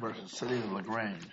v. City of LaGrange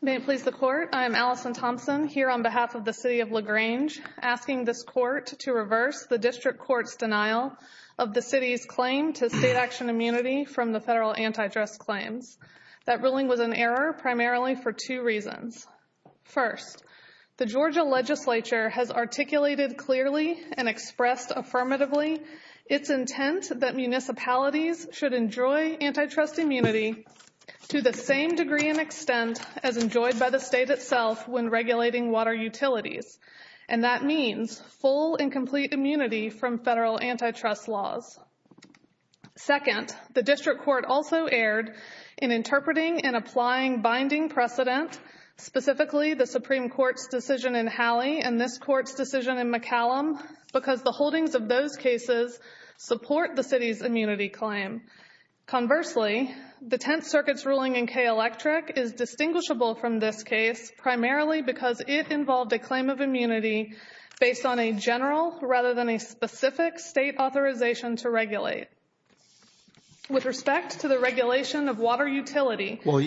May it please the Court, I am Allison Thompson here on behalf of the City of LaGrange asking this Court to reverse the District Court's denial of the City's claim to state action immunity from the federal anti-dress claims. That ruling was an error primarily for two reasons. First, the Georgia Legislature has articulated clearly and expressed affirmatively its intent that municipalities should enjoy anti-trust immunity to the same degree and extent as enjoyed by the state itself when regulating water utilities. And that means full and complete immunity from federal anti-trust laws. Second, the District Court also erred in interpreting and applying binding precedent, specifically the Supreme Court's decision in Hallie and this Court's decision in McCallum, because the holdings of those cases support the City's immunity claim. Conversely, the Tenth Circuit's ruling in K-Electric is distinguishable from this case primarily because it involved a claim of immunity based on a general rather than a specific state authorization to regulate. With respect to the regulation of water utility... Well,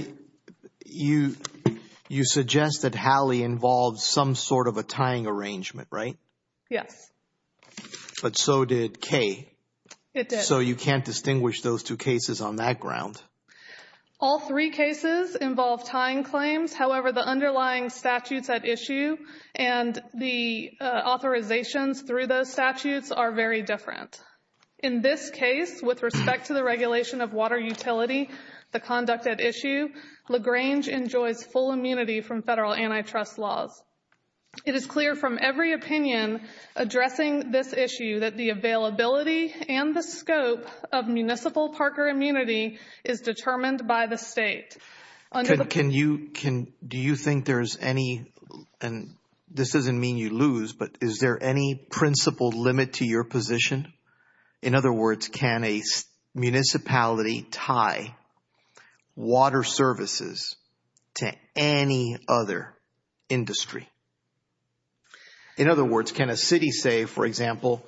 you suggest that Hallie involved some sort of a tying arrangement, right? Yes. But so did K. It did. So you can't distinguish those two cases on that ground. All three cases involved tying claims. However, the underlying statutes at issue and the authorizations through those statutes are very different. In this case, with respect to the regulation of water utility, the conduct at issue, LaGrange enjoys full immunity from federal anti-trust laws. It is clear from every opinion addressing this issue that the availability and the scope of municipal Parker immunity is determined by the state. Can you, do you think there's any, and this doesn't mean you lose, but is there any principle limit to your position? In other words, can a municipality tie water services to any other industry? In other words, can a city say, for example,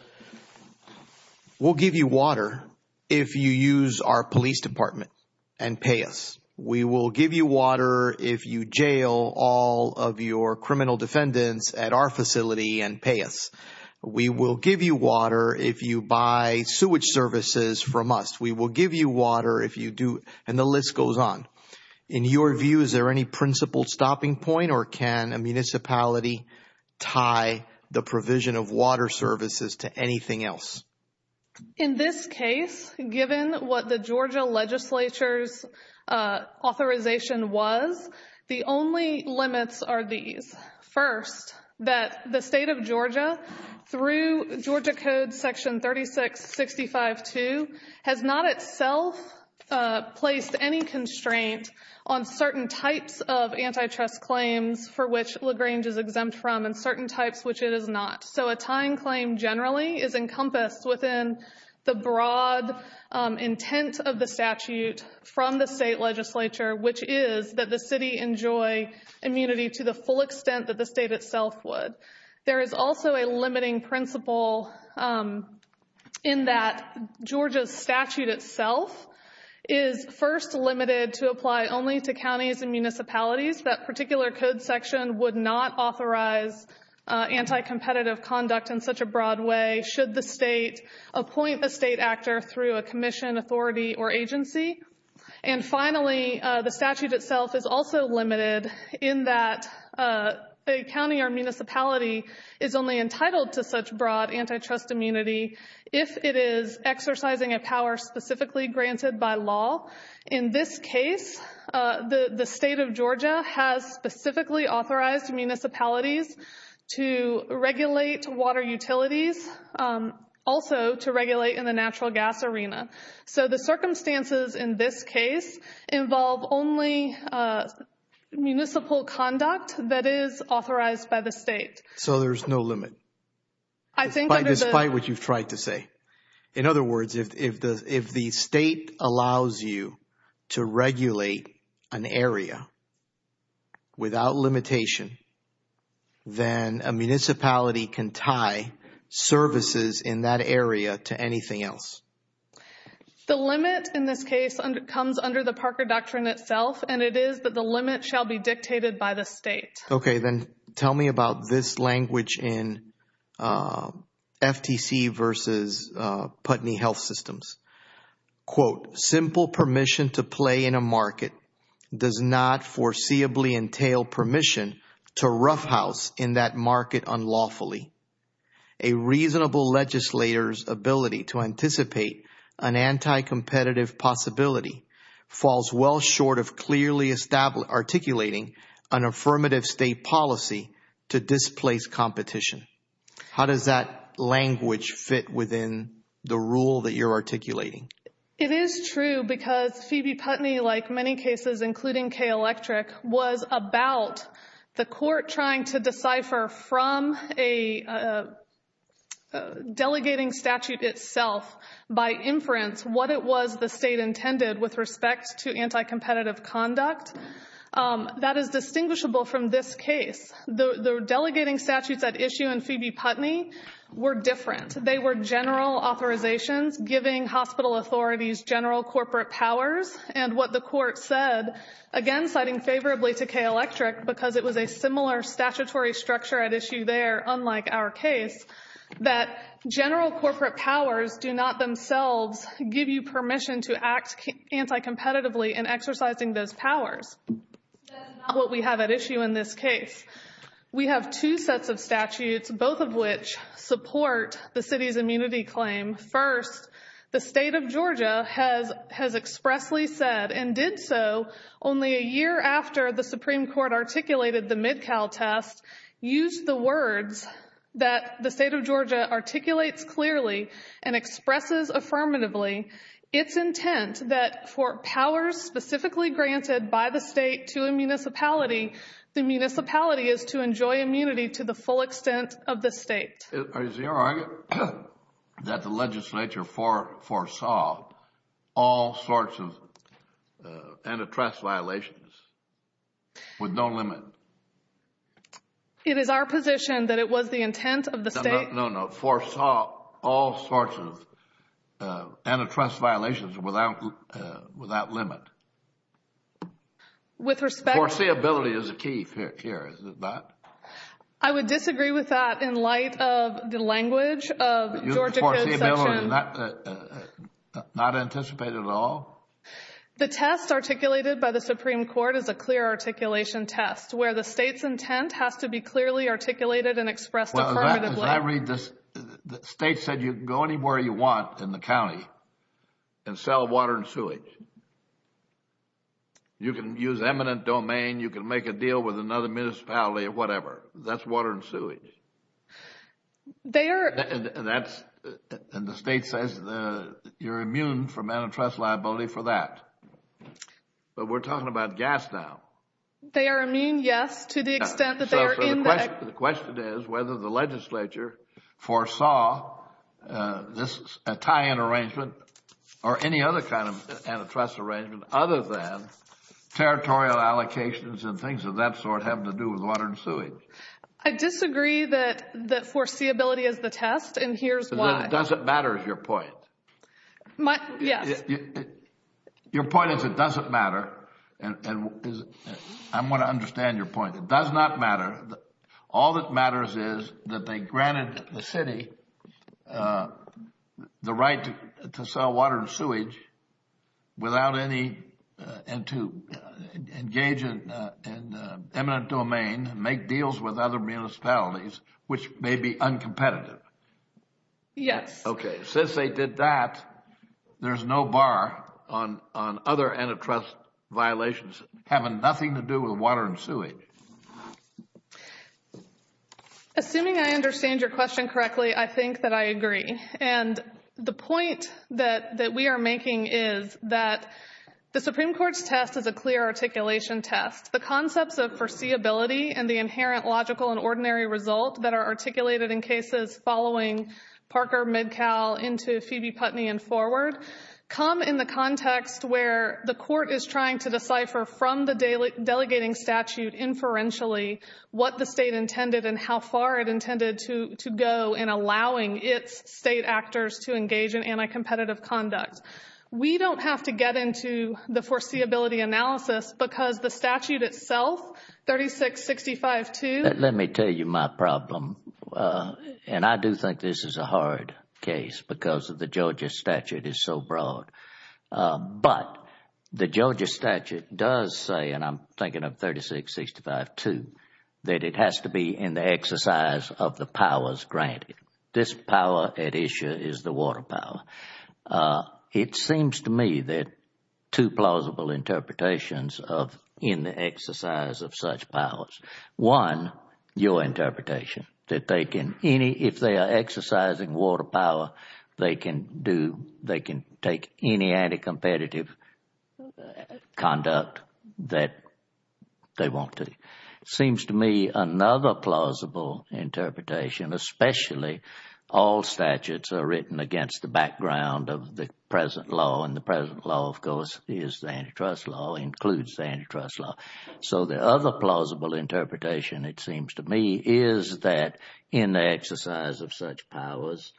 we'll give you water if you use our police department and pay us. We will give you water if you jail all of your criminal defendants at our facility and pay us. We will give you water if you buy sewage services from us. We will give you water if you do, and the list goes on. In your view, is there any principle stopping point or can a municipality tie the provision of water services to anything else? In this case, given what the Georgia legislature's authorization was, the only limits are these. First, that the state of Georgia, through Georgia code section 3665-2, has not itself placed any constraint on certain types of antitrust claims for which LaGrange is exempt from and certain types which it is not. So a tying claim generally is encompassed within the broad intent of the statute from the state legislature, which is that the city enjoy immunity to the full extent that the state itself would. There is also a limiting principle in that Georgia's statute itself is first limited to apply only to counties and municipalities. That particular code section would not authorize anti-competitive conduct in such a broad way should the state appoint a state actor through a commission, authority, or agency. And finally, the statute itself is also limited in that a county or municipality is only entitled to such broad antitrust immunity if it is exercising a power specifically granted by law. In this case, the state of Georgia has specifically authorized municipalities to regulate water utilities, also to regulate in the natural gas arena. So the circumstances in this case involve only municipal conduct that is authorized by the state. So there's no limit, despite what you've tried to say. In other words, if the state allows you to regulate an area without limitation, then a municipality can tie services in that area to anything else. The limit in this case comes under the Parker Doctrine itself, and it is that the limit shall be dictated by the state. Okay, then tell me about this language in FTC versus Putney Health Systems. Quote, simple permission to play in a market does not foreseeably entail permission to market unlawfully. A reasonable legislator's ability to anticipate an anti-competitive possibility falls well short of clearly articulating an affirmative state policy to displace competition. How does that language fit within the rule that you're articulating? It is true because Phoebe Putney, like many cases, including Kay Electric, was about the from a delegating statute itself by inference what it was the state intended with respect to anti-competitive conduct. That is distinguishable from this case. The delegating statutes at issue in Phoebe Putney were different. They were general authorizations giving hospital authorities general corporate powers, and what the court said, again, citing favorably to Kay Electric because it was a similar statutory structure at issue there, unlike our case, that general corporate powers do not themselves give you permission to act anti-competitively in exercising those powers. That is not what we have at issue in this case. We have two sets of statutes, both of which support the city's immunity claim. First, the state of Georgia has expressly said and did so only a year after the Supreme Court articulated the MidCal test, used the words that the state of Georgia articulates clearly and expresses affirmatively its intent that for powers specifically granted by the state to a municipality, the municipality is to enjoy immunity to the full extent of the state. Is your argument that the legislature foresaw all sorts of antitrust violations with no limit? It is our position that it was the intent of the state. No, no. Foresaw all sorts of antitrust violations without limit. With respect... Foreseeability is a key here, is it not? I would disagree with that in light of the language of the Georgia Code section. Not anticipated at all? The test articulated by the Supreme Court is a clear articulation test where the state's intent has to be clearly articulated and expressed affirmatively. Well, as I read this, the state said you can go anywhere you want in the county and sell water and sewage. You can use eminent domain, you can make a deal with another municipality or whatever. That's water and sewage. They are... And that's... And the state says you're immune from antitrust liability for that. But we're talking about gas now. They are immune, yes, to the extent that they are in the... So the question is whether the legislature foresaw this tie-in arrangement or any other kind of antitrust arrangement other than territorial allocations and things of that sort having to do with water and sewage. I disagree that foreseeability is the test, and here's why. Does it matter is your point? Yes. Your point is it doesn't matter. I want to understand your point. It does not matter. All that matters is that they granted the city the right to sell water and sewage without any... and to engage in eminent domain, make deals with other municipalities, which may be uncompetitive. Yes. Okay. Since they did that, there's no bar on other antitrust violations having nothing to do with water and sewage. Assuming I understand your question correctly, I think that I agree. And the point that we are making is that the Supreme Court's test is a clear articulation test. The concepts of foreseeability and the inherent logical and ordinary result that are articulated in cases following Parker, Midcal, into Phoebe Putney and forward come in the context where the court is trying to decipher from the delegating statute inferentially what the state intended and how far it intended to go in allowing its state actors to engage in anti-competitive conduct. We don't have to get into the foreseeability analysis because the statute itself, 3665-2... Let me tell you my problem. And I do think this is a hard case because the Georgia statute is so broad. But the Georgia statute does say, and I'm thinking of 3665-2, that it has to be in the exercise of the powers granted. This power at issue is the water power. It seems to me that two plausible interpretations of in the exercise of such powers, one, your any anti-competitive conduct that they want to. Seems to me another plausible interpretation, especially all statutes are written against the background of the present law, and the present law, of course, is the antitrust law, includes the antitrust law. So the other plausible interpretation, it seems to me, is that in the exercise of such powers,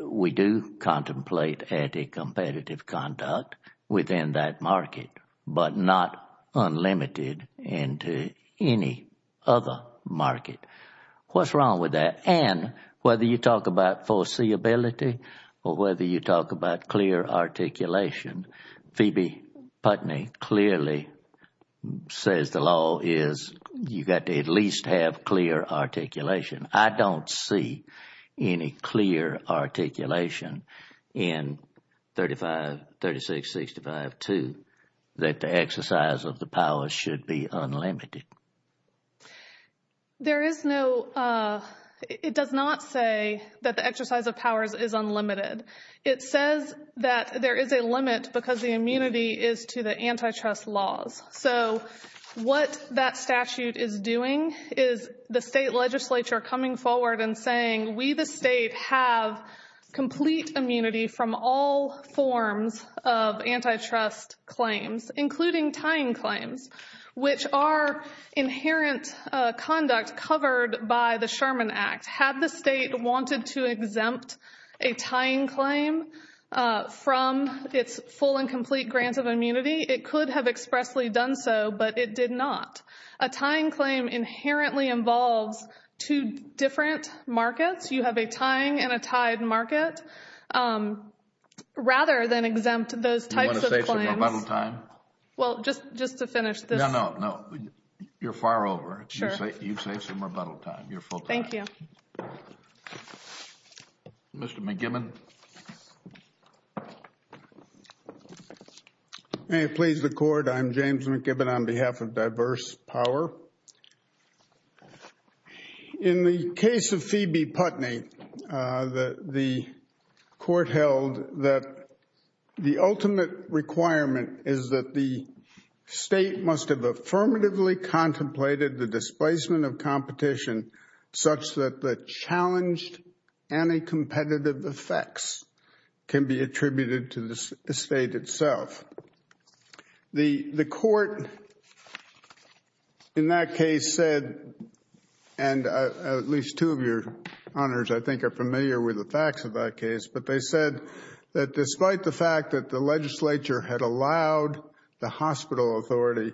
we do contemplate anti-competitive conduct within that market, but not unlimited into any other market. What's wrong with that? And whether you talk about foreseeability or whether you talk about clear articulation, Phoebe Putney clearly says the law is you've got to at least have clear articulation. I don't see any clear articulation in 3665-2 that the exercise of the powers should be unlimited. There is no, it does not say that the exercise of powers is unlimited. It says that there is a limit because the immunity is to the antitrust laws. So what that statute is doing is the state legislature coming forward and saying we the state have complete immunity from all forms of antitrust claims, including tying claims, which are inherent conduct covered by the Sherman Act. Had the state wanted to exempt a tying claim from its full and complete grant of immunity, it could have expressly done so, but it did not. A tying claim inherently involves two different markets. You have a tying and a tied market. Rather than exempt those types of claims. Do you want to say some rebuttal time? Well, just to finish this. No, no, no. You're far over. Sure. You say some rebuttal time. Thank you. Mr. McGibbon. May it please the court, I'm James McGibbon on behalf of Diverse Power. In the case of Phoebe Putney, the court held that the ultimate requirement is that the such that the challenged anti-competitive effects can be attributed to the state itself. The court in that case said, and at least two of your honors I think are familiar with the facts of that case, but they said that despite the fact that the legislature had allowed the hospital authority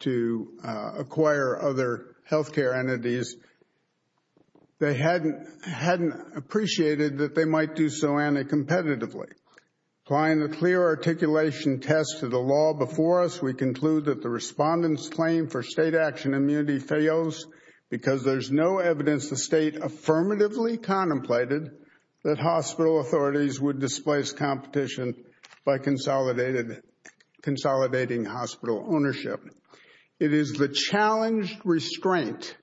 to acquire other health care entities, they hadn't appreciated that they might do so anti-competitively. Applying the clear articulation test to the law before us, we conclude that the respondent's claim for state action immunity fails because there's no evidence the state affirmatively contemplated that hospital authorities would displace competition by consolidating hospital ownership. It is the challenged restraint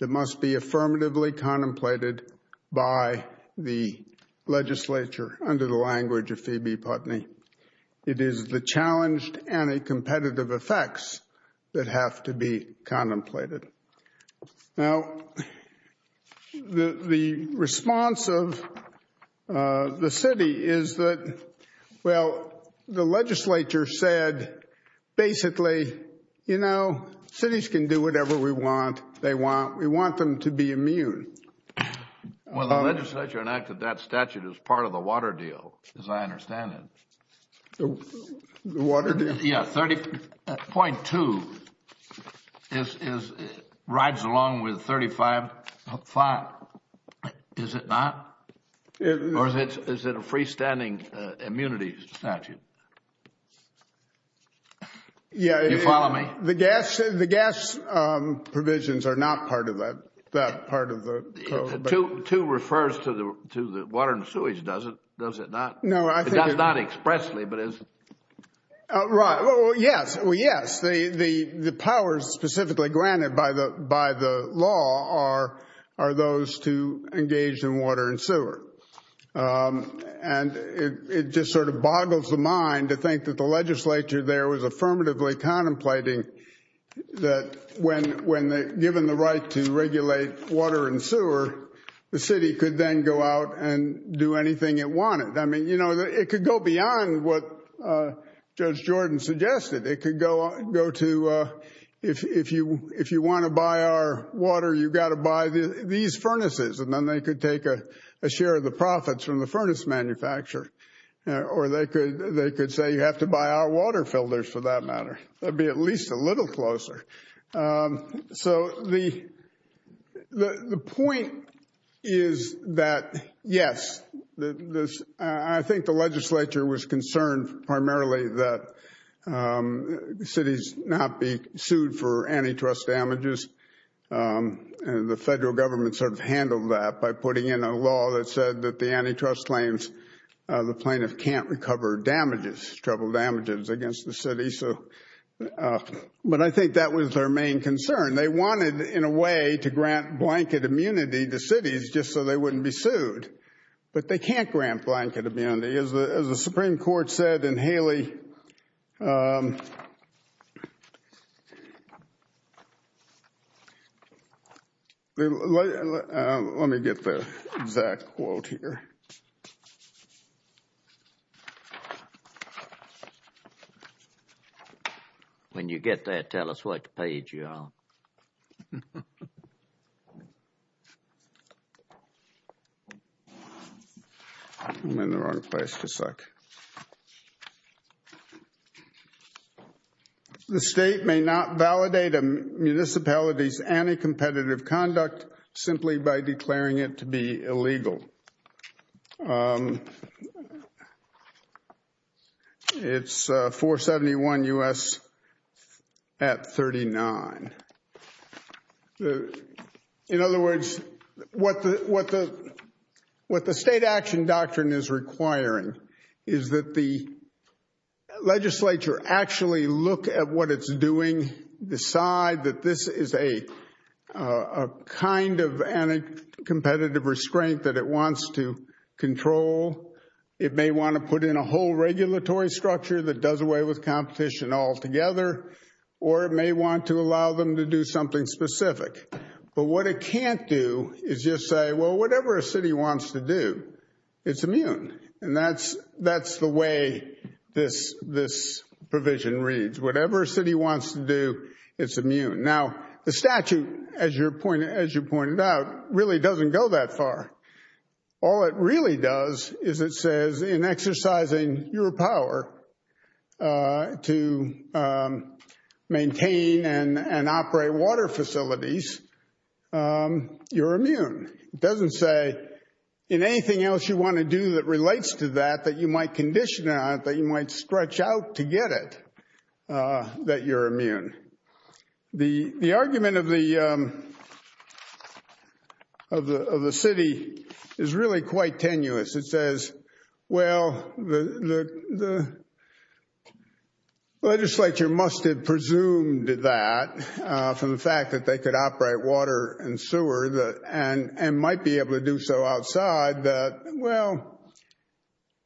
that must be affirmatively contemplated by the legislature under the language of Phoebe Putney. It is the challenged anti-competitive effects that have to be contemplated. Now, the response of the city is that, well, the legislature said, basically, you know, cities can do whatever we want, we want them to be immune. Well, the legislature enacted that statute as part of the water deal, as I understand it. The water deal? Yeah, 30.2 rides along with 35.5, is it not? Or is it a freestanding immunity statute? Yeah. You follow me? The gas provisions are not part of that part of the code. Two refers to the water and sewage, does it? Does it not? No. It does not expressly, but it is. Right. Well, yes. Well, yes. The powers specifically granted by the law are those to engage in water and sewer. And it just sort of boggles the mind to think that the legislature there was affirmatively contemplating that when given the right to regulate water and sewer, the city could then go out and do anything it wanted. I mean, you know, it could go beyond what Judge Jordan suggested. It could go to, if you want to buy our water, you've got to buy these furnaces. And then they could take a share of the profits from the furnace manufacturer. Or they could say, you have to buy our water filters, for that matter. That would be at least a little closer. So the point is that, yes, I think the legislature was concerned primarily that cities not be sued for antitrust damages. And the federal government sort of handled that by putting in a law that said that the antitrust claims the plaintiff can't recover damages, trouble damages, against the city. But I think that was their main concern. They wanted, in a way, to grant blanket immunity to cities just so they wouldn't be sued. But they can't grant blanket immunity. As the Supreme Court said in Haley, let me get the exact quote here. When you get that, tell us what page you're on. I'm in the wrong place, just a sec. The state may not validate a municipality's anticompetitive conduct simply by declaring it to be illegal. It's 471 U.S. at 39. In other words, what the state action doctrine is requiring is that the legislature actually look at what it's doing, decide that this is a kind of anticompetitive restraint that it wants to control. It may want to put in a whole regulatory structure that does away with competition altogether. Or it may want to allow them to do something specific. But what it can't do is just say, well, whatever a city wants to do, it's immune. And that's the way this provision reads. Whatever a city wants to do, it's immune. Now, the statute, as you pointed out, really doesn't go that far. All it really does is it says in exercising your power to maintain and operate water facilities, you're immune. It doesn't say in anything else you want to do that relates to that, that you might condition it, that you might stretch out to get it, that you're immune. The argument of the city is really quite tenuous. It says, well, the legislature must have presumed that from the fact that they could operate water and sewer and might be able to do so outside that, well,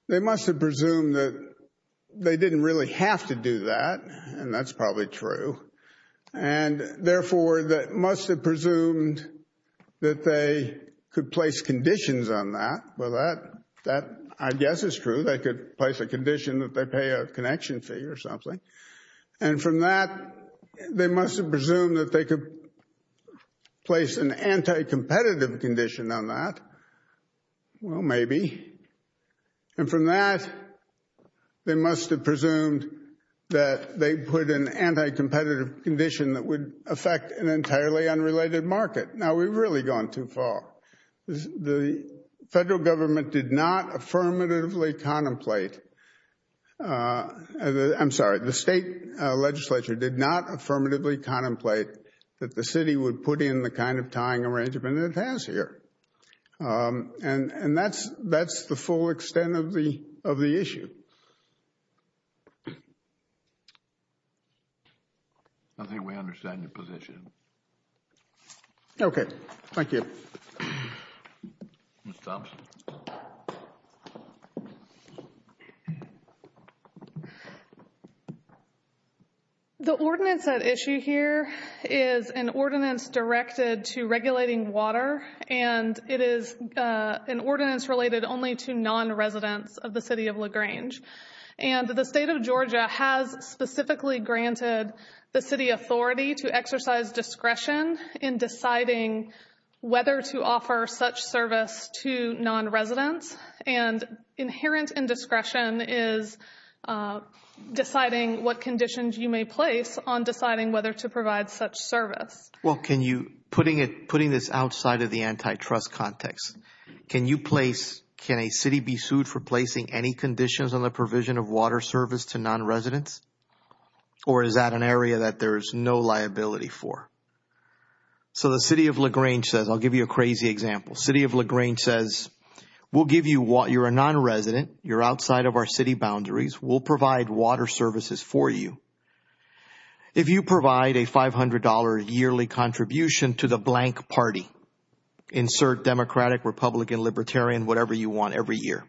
they must have presumed that they didn't really have to do that. And that's probably true. And therefore, they must have presumed that they could place conditions on that. Well, that, I guess, is true. They could place a condition that they pay a connection fee or something. And from that, they must have presumed that they could place an anti-competitive condition on that. Well, maybe. And from that, they must have presumed that they put an anti-competitive condition that would affect an entirely unrelated market. Now, we've really gone too far. The federal government did not affirmatively contemplate, I'm sorry, the state legislature did not affirmatively contemplate that the city would put in the kind of tying arrangement it has here. And that's the full extent of the issue. I think we understand your position. Okay. Thank you. Ms. Thompson. Thank you. The ordinance at issue here is an ordinance directed to regulating water. And it is an ordinance related only to non-residents of the city of LaGrange. And the state of Georgia has specifically granted the city authority to exercise discretion in deciding whether to offer such service to non-residents. And inherent indiscretion is deciding what conditions you may place on deciding whether to provide such service. Well, can you, putting this outside of the antitrust context, can you place, can a city be sued for placing any conditions on the provision of water service to non-residents? Or is that an area that there is no liability for? So the city of LaGrange says, I'll give you a crazy example. City of LaGrange says, we'll give you, you're a non-resident, you're outside of our city boundaries, we'll provide water services for you. If you provide a $500 yearly contribution to the blank party, insert Democratic, Republican, Libertarian, whatever you want every year.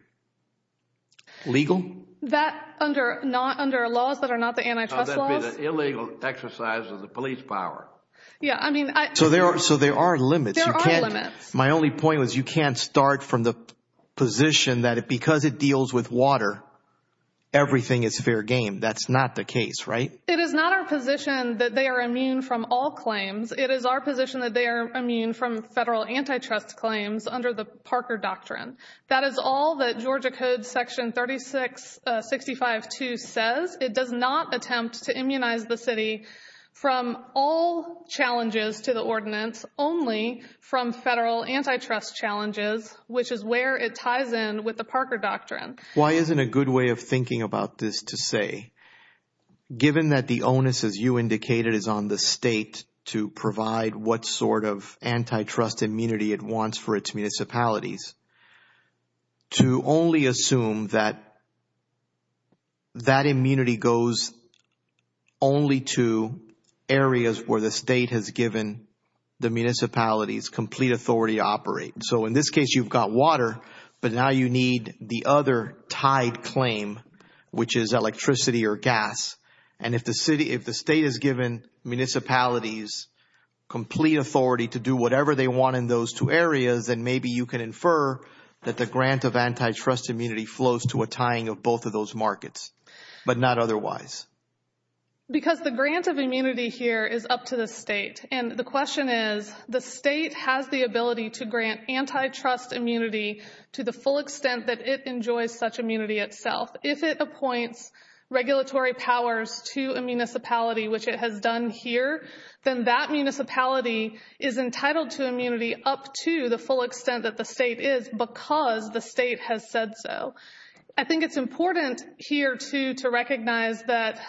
Legal? That under laws that are not the antitrust laws. That would be the illegal exercise of the police power. Yeah, I mean. So there are limits. There are limits. My only point was you can't start from the position that because it deals with water, everything is fair game. That's not the case, right? It is not our position that they are immune from all claims. It is our position that they are immune from federal antitrust claims under the Parker Doctrine. That is all that Georgia Code Section 3665-2 says. It does not attempt to immunize the city from all challenges to the ordinance, only from federal antitrust challenges, which is where it ties in with the Parker Doctrine. Why isn't a good way of thinking about this to say, given that the onus, as you indicated, is on the state to provide what sort of antitrust immunity it wants for its municipalities, to only assume that that immunity goes only to areas where the state has given the municipalities complete authority to operate. So in this case, you've got water, but now you need the other tied claim, which is electricity or gas. And if the state has given municipalities complete authority to do whatever they want in those two areas, then maybe you can infer that the grant of antitrust immunity flows to a tying of both of those markets, but not otherwise. Because the grant of immunity here is up to the state. And the question is, the state has the ability to grant antitrust immunity to the full extent that it enjoys such immunity itself. If it appoints regulatory powers to a municipality, which it has done here, then that municipality is entitled to immunity up to the full extent that the state is, because the state has said so. I think it's important here, too, to recognize that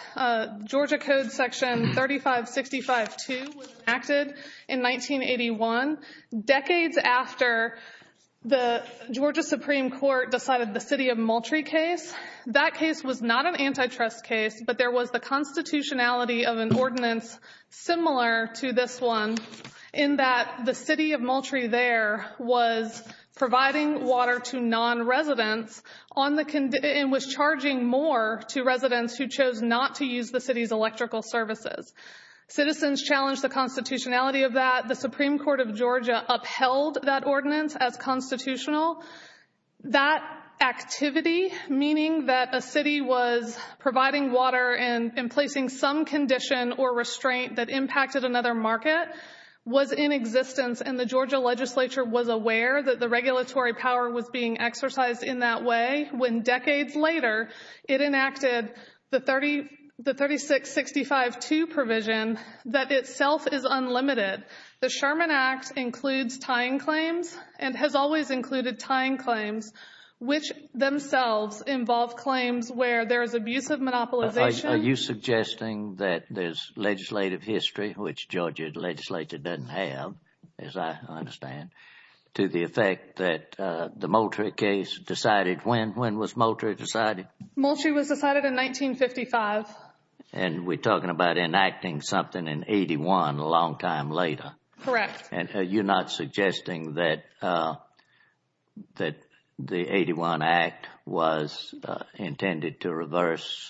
Georgia Code Section 3565-2 was enacted in 1981, decades after the Georgia Supreme Court decided the city of Moultrie case. That case was not an antitrust case, but there was the constitutionality of an ordinance similar to this one, in that the city of Moultrie there was providing water to non-residents and was charging more to residents who chose not to use the city's electrical services. Citizens challenged the constitutionality of that. The Supreme Court of Georgia upheld that ordinance as constitutional. That activity, meaning that a city was providing water and placing some condition or restraint that impacted another market, was in existence. And the Georgia legislature was aware that the regulatory power was being exercised in that way when decades later it enacted the 3665-2 provision that itself is unlimited. The Sherman Act includes tying claims and has always included tying claims, which themselves involve claims where there is abusive monopolization. Are you suggesting that there is legislative history, which Georgia legislature doesn't have, as I understand, to the effect that the Moultrie case decided when? When was Moultrie decided? Moultrie was decided in 1955. And we're talking about enacting something in 81 a long time later. Correct. And you're not suggesting that the 81 Act was intended to reverse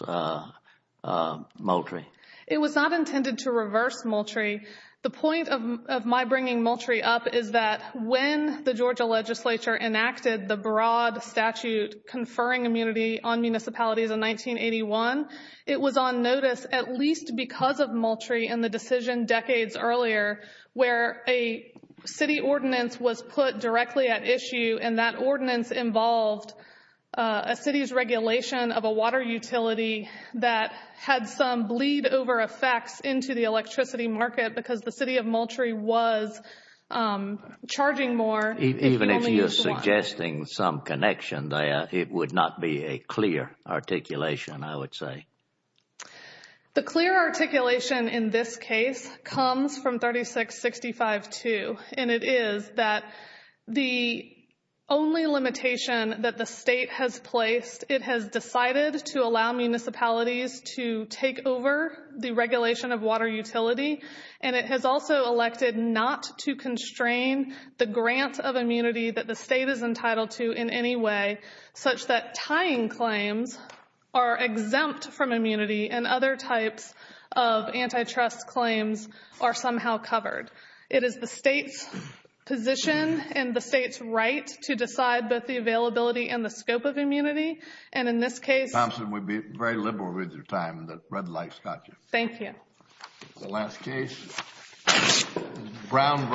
Moultrie? It was not intended to reverse Moultrie. The point of my bringing Moultrie up is that when the Georgia legislature enacted the broad statute conferring immunity on municipalities in 1981, it was on notice at least because of Moultrie and the decision decades earlier where a city ordinance was put directly at issue and that ordinance involved a city's regulation of a water utility that had some lead over effects into the electricity market because the city of Moultrie was charging more. Even if you're suggesting some connection there, it would not be a clear articulation, I would say. The clear articulation in this case comes from 3665-2. And it is that the only limitation that the state has placed, it has decided to allow municipalities to take over the regulation of water utility. And it has also elected not to constrain the grant of immunity that the state is entitled to in any way such that tying claims are exempt from immunity and other types of antitrust claims are somehow covered. It is the state's position and the state's right to decide both the availability and the scope of immunity. And in this case Thompson, we'd be very liberal with your time. The red light's got you. Thank you. The last case, Brown versus